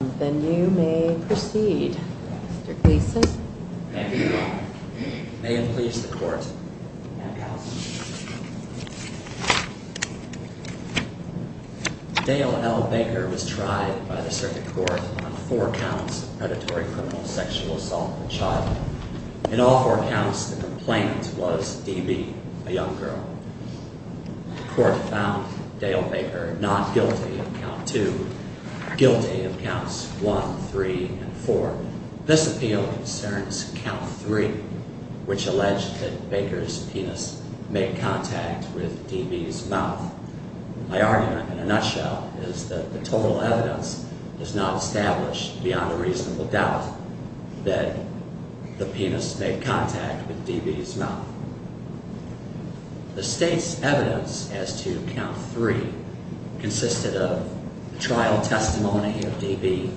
Dale L. Baker was tried by the Circuit Court on four counts of predatory criminal sexual assault of a child. In all four counts, the complainant was Dee Bee, a young girl. The Court found Dale Baker not guilty of count 2, guilty of counts 1, 3, and 4. This appeal concerns count 3, which alleged that Baker's penis made contact with Dee Bee's mouth. My argument, in a nutshell, is that the total evidence is not established beyond a reasonable doubt that the penis made contact with Dee Bee's mouth. The State's evidence as to count 3 consisted of the trial testimony of Dee Bee,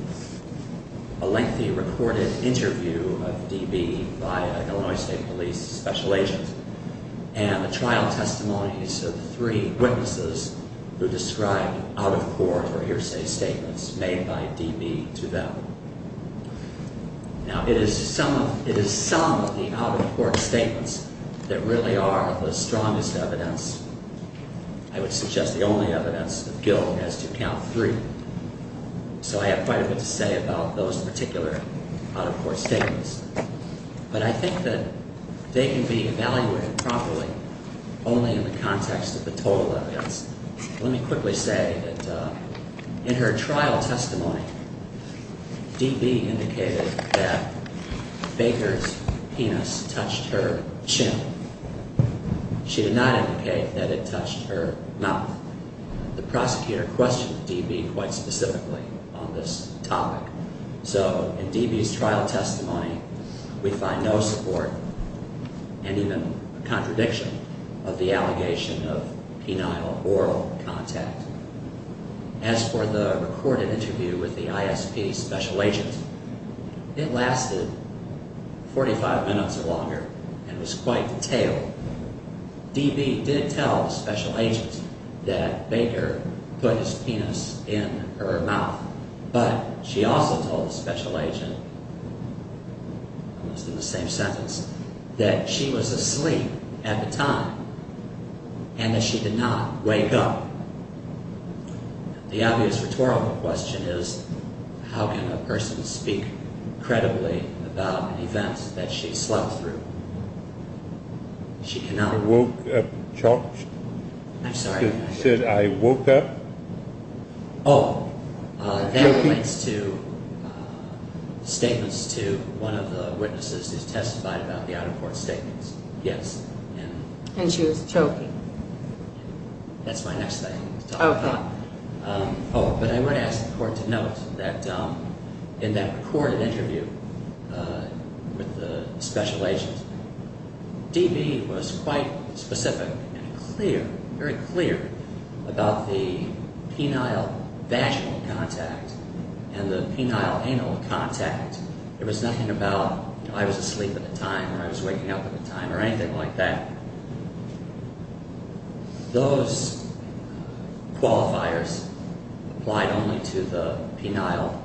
a lengthy recorded interview of Dee Bee by an Illinois State Police Special Agent, and the trial testimonies of three witnesses who described out-of-court or hearsay statements made by Dee Bee to them. Now, it is some of the out-of-court statements that really are the strongest evidence. I would suggest the only evidence that Gil has to count 3. So I have quite a bit to say about those particular out-of-court statements. But I think that they can be evaluated properly only in the context of the total evidence. Let me quickly say that in her trial testimony, Dee Bee indicated that Baker's penis touched her chin. She did not indicate that it touched her mouth. The prosecutor questioned Dee Bee quite specifically on this topic. So in Dee Bee's trial testimony, we find no support, and even a contradiction, of the allegation of penile oral contact. As for the recorded interview with the ISP Special Agent, it lasted 45 minutes or longer and was quite detailed. Dee Bee did tell the Special Agent that Baker put his penis in her mouth. But she also told the Special Agent, almost in the same sentence, that she was asleep at the time and that she did not wake up. The obvious rhetorical question is, how can a person speak credibly about an event that she slept through? She cannot. She woke up and choked? I'm sorry? She said, I woke up? Oh. Choking? That relates to statements to one of the witnesses who testified about the out-of-court statements. Yes. And she was choking. That's my next thing. Okay. Oh, but I would ask the Court to note that in that recorded interview with the Special Agent, Dee Bee was quite specific and clear, very clear, about the penile vaginal contact and the penile anal contact. It was nothing about, you know, I was asleep at the time or I was waking up at the time or anything like that. Those qualifiers applied only to the penile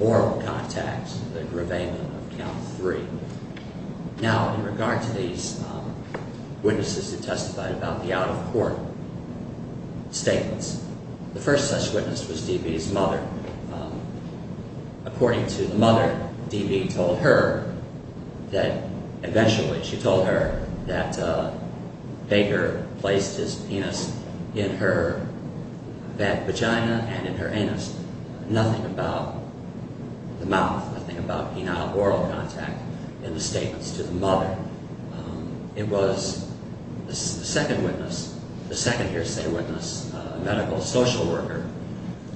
oral contact, the graveman of Count 3. Now, in regard to these witnesses who testified about the out-of-court statements, the first such witness was Dee Bee's mother. According to the mother, Dee Bee told her that eventually, she told her that Baker placed his penis in her vagina and in her anus. Nothing about the mouth, nothing about penile oral contact in the statements to the mother. It was the second witness, the second hearsay witness, a medical social worker,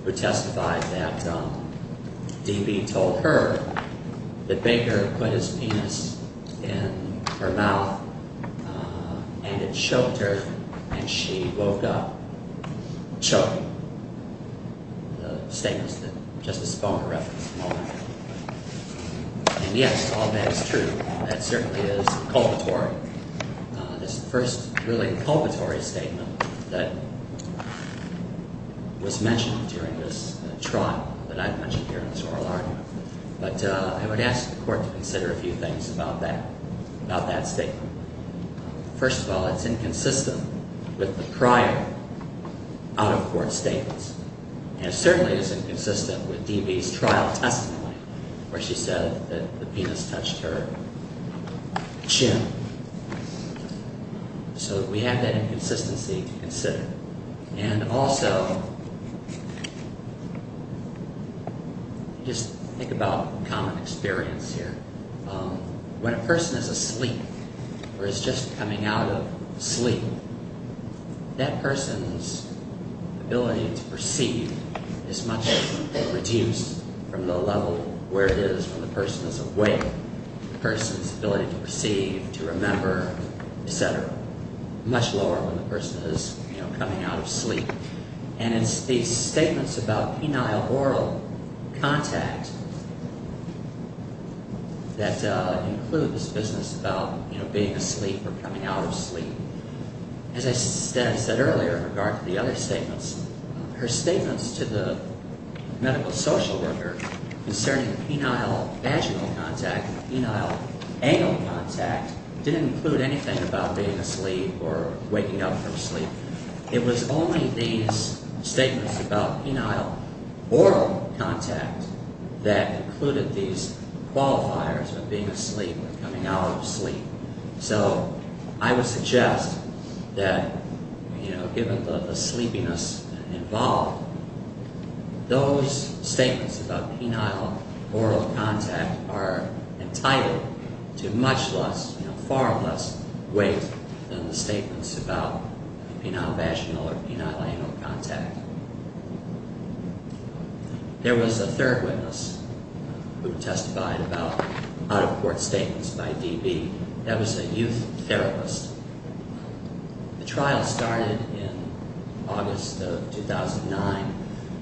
who testified that Dee Bee told her that Baker put his penis in her mouth and it choked her and she woke up choking. The statements that Justice Bomer referenced. And yes, all that is true. That certainly is a culpatory, this first really culpatory statement that was mentioned during this trial that I've mentioned here in this oral argument. But I would ask the Court to consider a few things about that, about that statement. First of all, it's inconsistent with the prior out-of-court statements. And it certainly is inconsistent with Dee Bee's trial testimony where she said that the penis touched her chin. So we have that inconsistency to consider. And also, just think about common experience here. When a person is asleep or is just coming out of sleep, that person's ability to perceive is much reduced from the level where it is when the person is awake. The person's ability to perceive, to remember, et cetera, much lower when the person is, you know, coming out of sleep. And it's these statements about penile oral contact that include this business about, you know, being asleep or coming out of sleep. As I said earlier in regard to the other statements, her statements to the medical social worker concerning penile vaginal contact and penile anal contact didn't include anything about being asleep or waking up from sleep. It was only these statements about penile oral contact that included these qualifiers of being asleep or coming out of sleep. So I would suggest that, you know, given the sleepiness involved, those statements about penile oral contact are entitled to much less, you know, far less weight than the statements about penile vaginal or penile anal contact. There was a third witness who testified about out-of-court statements by DV. That was a youth therapist. The trial started in August of 2009.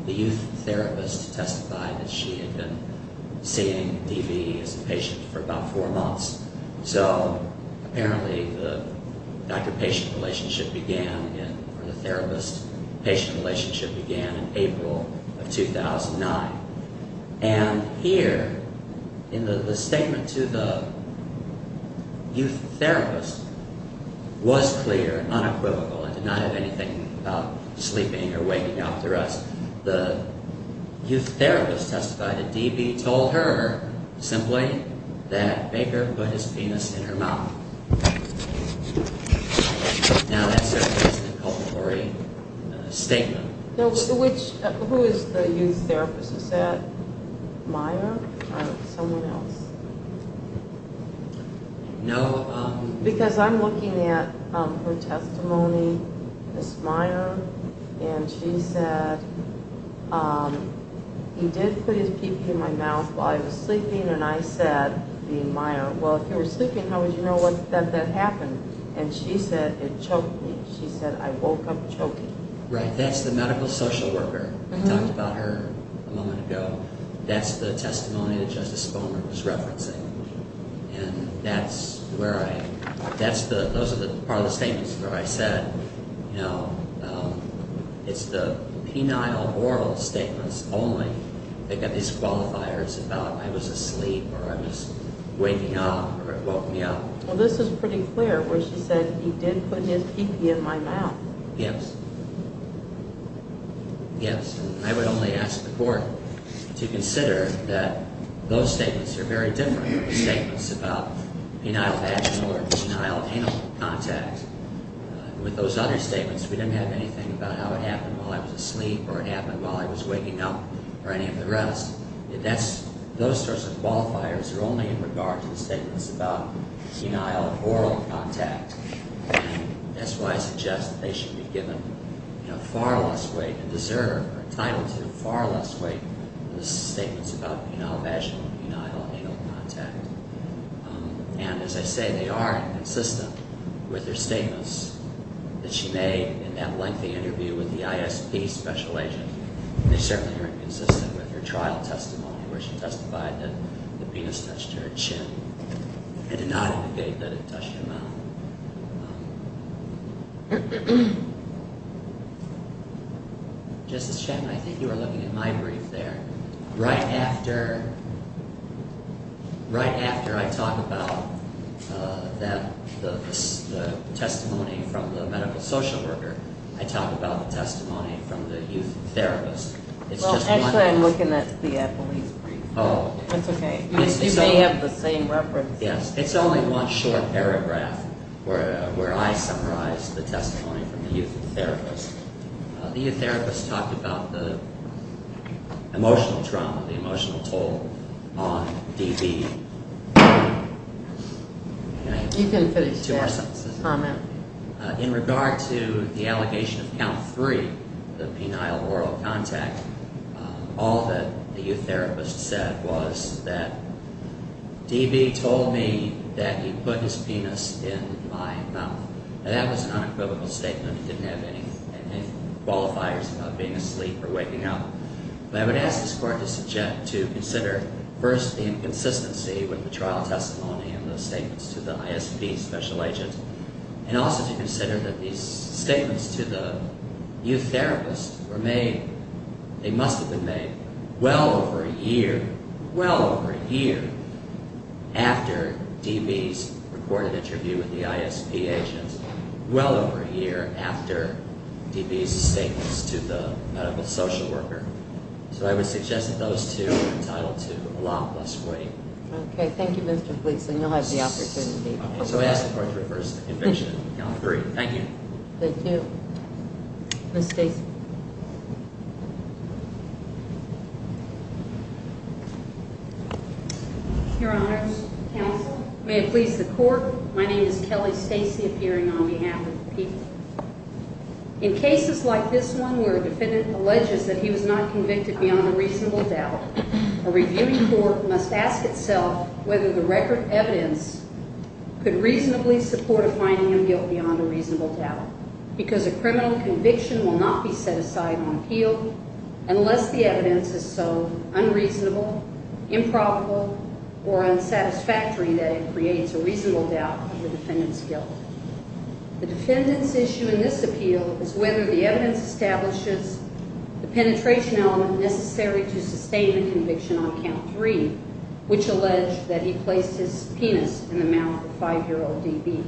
The youth therapist testified that she had been seeing DV as a patient for about four months. So apparently the doctor-patient relationship began, or the therapist-patient relationship began in April of 2009. And here, in the statement to the youth therapist, was clear, unequivocal, and did not have anything about sleeping or waking after us. The youth therapist testified that DV told her, simply, that Baker put his penis in her mouth. Now that certainly is an inculpatory statement. Who is the youth therapist? Is that Maya or someone else? No. Because I'm looking at her testimony as Maya. And she said, he did put his peepee in my mouth while I was sleeping. And I said, being Maya, well, if you were sleeping, how would you know that that happened? And she said, it choked me. She said, I woke up choking. Right. That's the medical social worker. We talked about her a moment ago. That's the testimony that Justice Spomer was referencing. And that's where I, that's the, those are the part of the statements where I said, you know, it's the penile oral statements only that got these qualifiers about I was asleep or I was waking up or it woke me up. Well, this is pretty clear where she said, he did put his peepee in my mouth. Yes. Yes. And I would only ask the Court to consider that those statements are very different from the statements about penile vaginal or penile anal contact. With those other statements, we didn't have anything about how it happened while I was asleep or it happened while I was waking up or any of the rest. That's, those sorts of qualifiers are only in regard to the statements about penile oral contact. That's why I suggest that they should be given, you know, far less weight and deserve or entitled to far less weight than the statements about penile vaginal and penile anal contact. And as I say, they are inconsistent with her statements that she made in that lengthy interview with the ISP special agent. They certainly are inconsistent with her trial testimony where she testified that the penis touched her chin and did not indicate that it touched her mouth. Justice Chapman, I think you were looking at my brief there. Right after, right after I talk about that, the testimony from the medical social worker, I talk about the testimony from the youth therapist. It's just one paragraph. Well, actually, I'm looking at the police brief. Oh. That's okay. You may have the same reference. Yes. It's only one short paragraph where I summarize the testimony from the youth therapist. The youth therapist talked about the emotional trauma, the emotional toll on DB. Two more sentences. In regard to the allegation of count three, the penile oral contact, all that the youth therapist said was that DB told me that he put his penis in my mouth. Now, that was an unequivocal statement. It didn't have any qualifiers about being asleep or waking up. But I would ask this Court to consider first the inconsistency with the trial testimony and the statements to the ISP special agent, and also to consider that these statements to the youth therapist were made, they must have been made, well over a year, well over a year, after DB's recorded interview with the ISP agent, well over a year after DB's statements to the medical social worker. So I would suggest that those two are entitled to a lot less waiting. Okay. Thank you, Mr. Gleason. You'll have the opportunity. Okay. So I ask the Court to reverse the conviction on three. Thank you. Thank you. Ms. Stacy. Your Honors, counsel, may it please the Court, my name is Kelly Stacy, appearing on behalf of the people. In cases like this one where a defendant alleges that he was not convicted beyond a reasonable doubt, a reviewing court must ask itself whether the record evidence could reasonably support a finding of guilt beyond a reasonable doubt, because a criminal conviction will not be set aside on appeal unless the evidence is so unreasonable, improbable, or unsatisfactory that it creates a reasonable doubt of the defendant's guilt. The defendant's issue in this appeal is whether the evidence establishes the penetration element necessary to sustain the conviction on count three, which alleged that he placed his penis in the mouth of 5-year-old DB.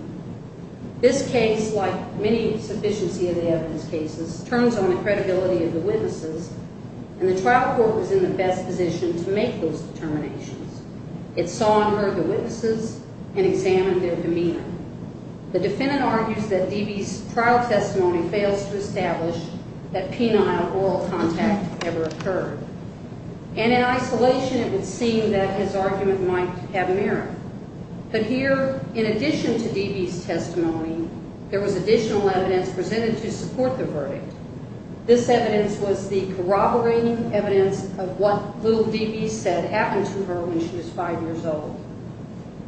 This case, like many sufficiency of the evidence cases, turns on the credibility of the witnesses, and the trial court was in the best position to make those determinations. It saw and heard the witnesses and examined their demeanor. The defendant argues that DB's trial testimony fails to establish that penile oral contact ever occurred, and in isolation it would seem that his argument might have merit. But here, in addition to DB's testimony, there was additional evidence presented to support the verdict. This evidence was the corroborating evidence of what little DB said happened to her when she was 5 years old.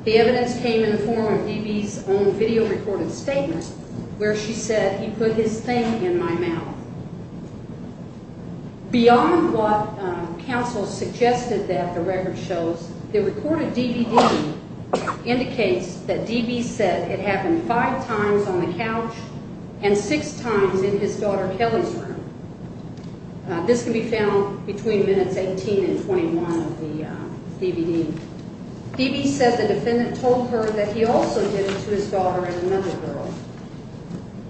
The evidence came in the form of DB's own video-recorded statement where she said, Beyond what counsel suggested that the record shows, the recorded DVD indicates that DB said it happened five times on the couch and six times in his daughter Kelly's room. This can be found between minutes 18 and 21 of the DVD. DB said the defendant told her that he also did it to his daughter and another girl.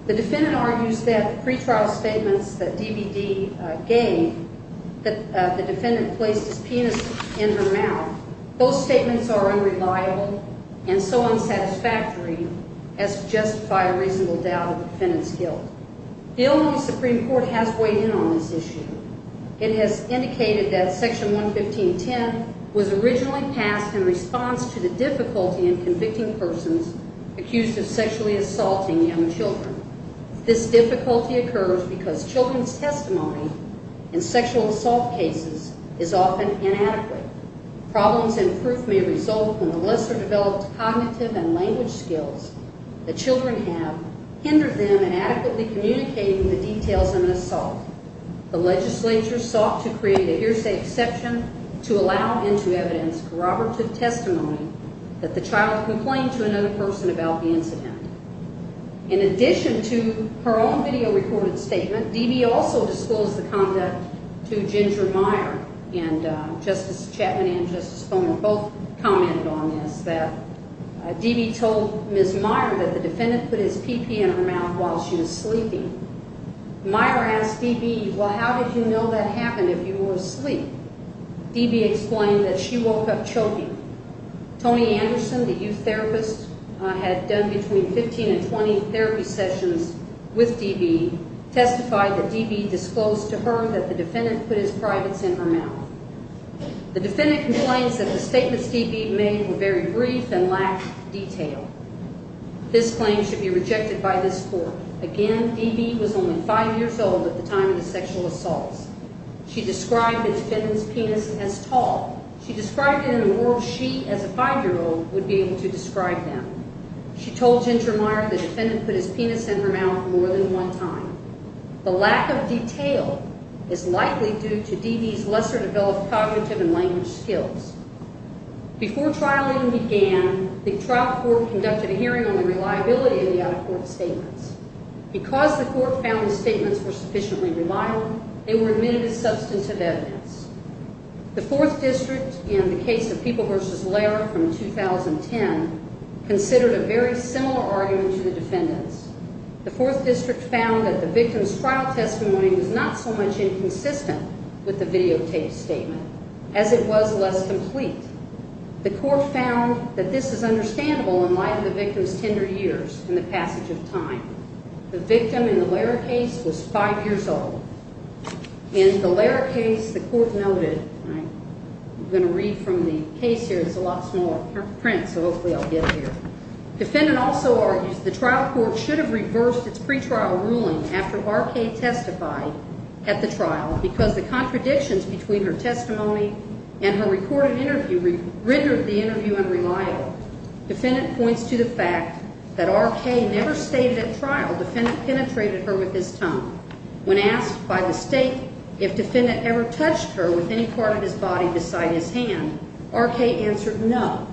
The defendant argues that the pretrial statements that the DVD gave, that the defendant placed his penis in her mouth, those statements are unreliable and so unsatisfactory as to justify a reasonable doubt of the defendant's guilt. The Illinois Supreme Court has weighed in on this issue. It has indicated that Section 115.10 was originally passed in response to the difficulty in convicting persons accused of sexually assaulting young children. This difficulty occurs because children's testimony in sexual assault cases is often inadequate. Problems in proof may result when the lesser-developed cognitive and language skills that children have hinder them in adequately communicating the details of an assault. The legislature sought to create a hearsay exception to allow into evidence corroborative testimony that the child complained to another person about the incident. In addition to her own video-recorded statement, DB also disclosed the conduct to Ginger Meyer and Justice Chapman and Justice Foner both commented on this, that DB told Ms. Meyer that the defendant put his pee-pee in her mouth while she was sleeping. Meyer asked DB, well, how did you know that happened if you were asleep? DB explained that she woke up choking. Tony Anderson, the youth therapist, had done between 15 and 20 therapy sessions with DB, testified that DB disclosed to her that the defendant put his privates in her mouth. The defendant complains that the statements DB made were very brief and lacked detail. This claim should be rejected by this court. Again, DB was only five years old at the time of the sexual assaults. She described the defendant's penis as tall. She described it in a world she, as a five-year-old, would be able to describe them. She told Ginger Meyer the defendant put his penis in her mouth more than one time. The lack of detail is likely due to DB's lesser-developed cognitive and language skills. Before trialing began, the trial court conducted a hearing on the reliability of the out-of-court statements. Because the court found the statements were sufficiently reliable, they were admitted as substantive evidence. The Fourth District, in the case of People v. Lehrer from 2010, considered a very similar argument to the defendant's. The Fourth District found that the victim's trial testimony was not so much inconsistent with the videotaped statement as it was less complete. The court found that this is understandable in light of the victim's tender years and the passage of time. The victim in the Lehrer case was five years old. In the Lehrer case, the court noted, I'm going to read from the case here. It's a lot smaller print, so hopefully I'll get it here. Defendant also argues the trial court should have reversed its pre-trial ruling after Barkay testified at the trial because the contradictions between her testimony and her recorded interview rendered the interview unreliable. Defendant points to the fact that R.K. never stated at trial the defendant penetrated her with his tongue. When asked by the State if defendant ever touched her with any part of his body beside his hand, R.K. answered no.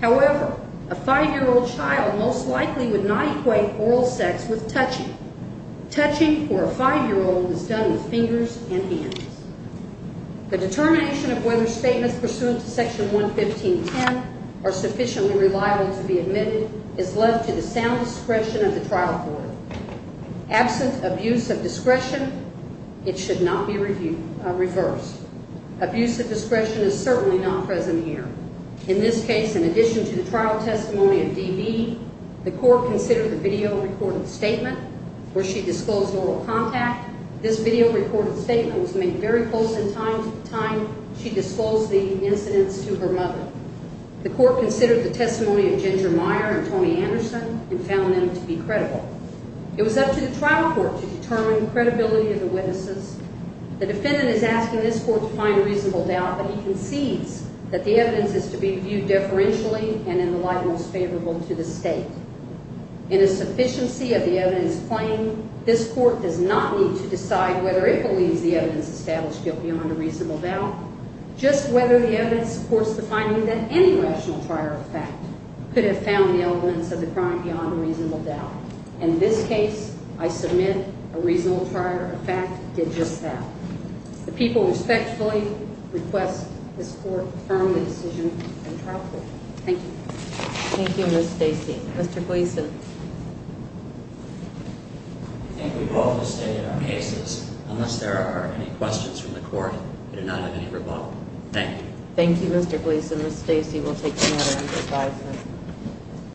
However, a five-year-old child most likely would not equate oral sex with touching. Touching for a five-year-old is done with fingers and hands. The determination of whether statements pursuant to Section 115.10 are sufficiently reliable to be admitted is left to the sound discretion of the trial court. Absent abuse of discretion, it should not be reversed. Abuse of discretion is certainly not present here. In this case, in addition to the trial testimony of D.B., the court considered the video-recorded statement where she disclosed oral contact. This video-recorded statement was made very close in time to the time she disclosed the incidents to her mother. The court considered the testimony of Ginger Meyer and Tony Anderson and found them to be credible. It was up to the trial court to determine the credibility of the witnesses. The defendant is asking this court to find reasonable doubt, but he concedes that the evidence is to be viewed differentially and in the light most favorable to the State. In a sufficiency of the evidence claimed, this court does not need to decide whether it believes the evidence established guilt beyond a reasonable doubt, just whether the evidence supports the finding that any rational trier of fact could have found the elements of the crime beyond a reasonable doubt. In this case, I submit a reasonable trier of fact did just that. The people respectfully request this court firm the decision in trial court. Thank you. Thank you, Ms. Stacy. Mr. Gleason. I think we've all stated our cases. Unless there are any questions from the court, we do not have any rebuttal. Thank you. Thank you, Mr. Gleason. Ms. Stacy will take the matter under advisement.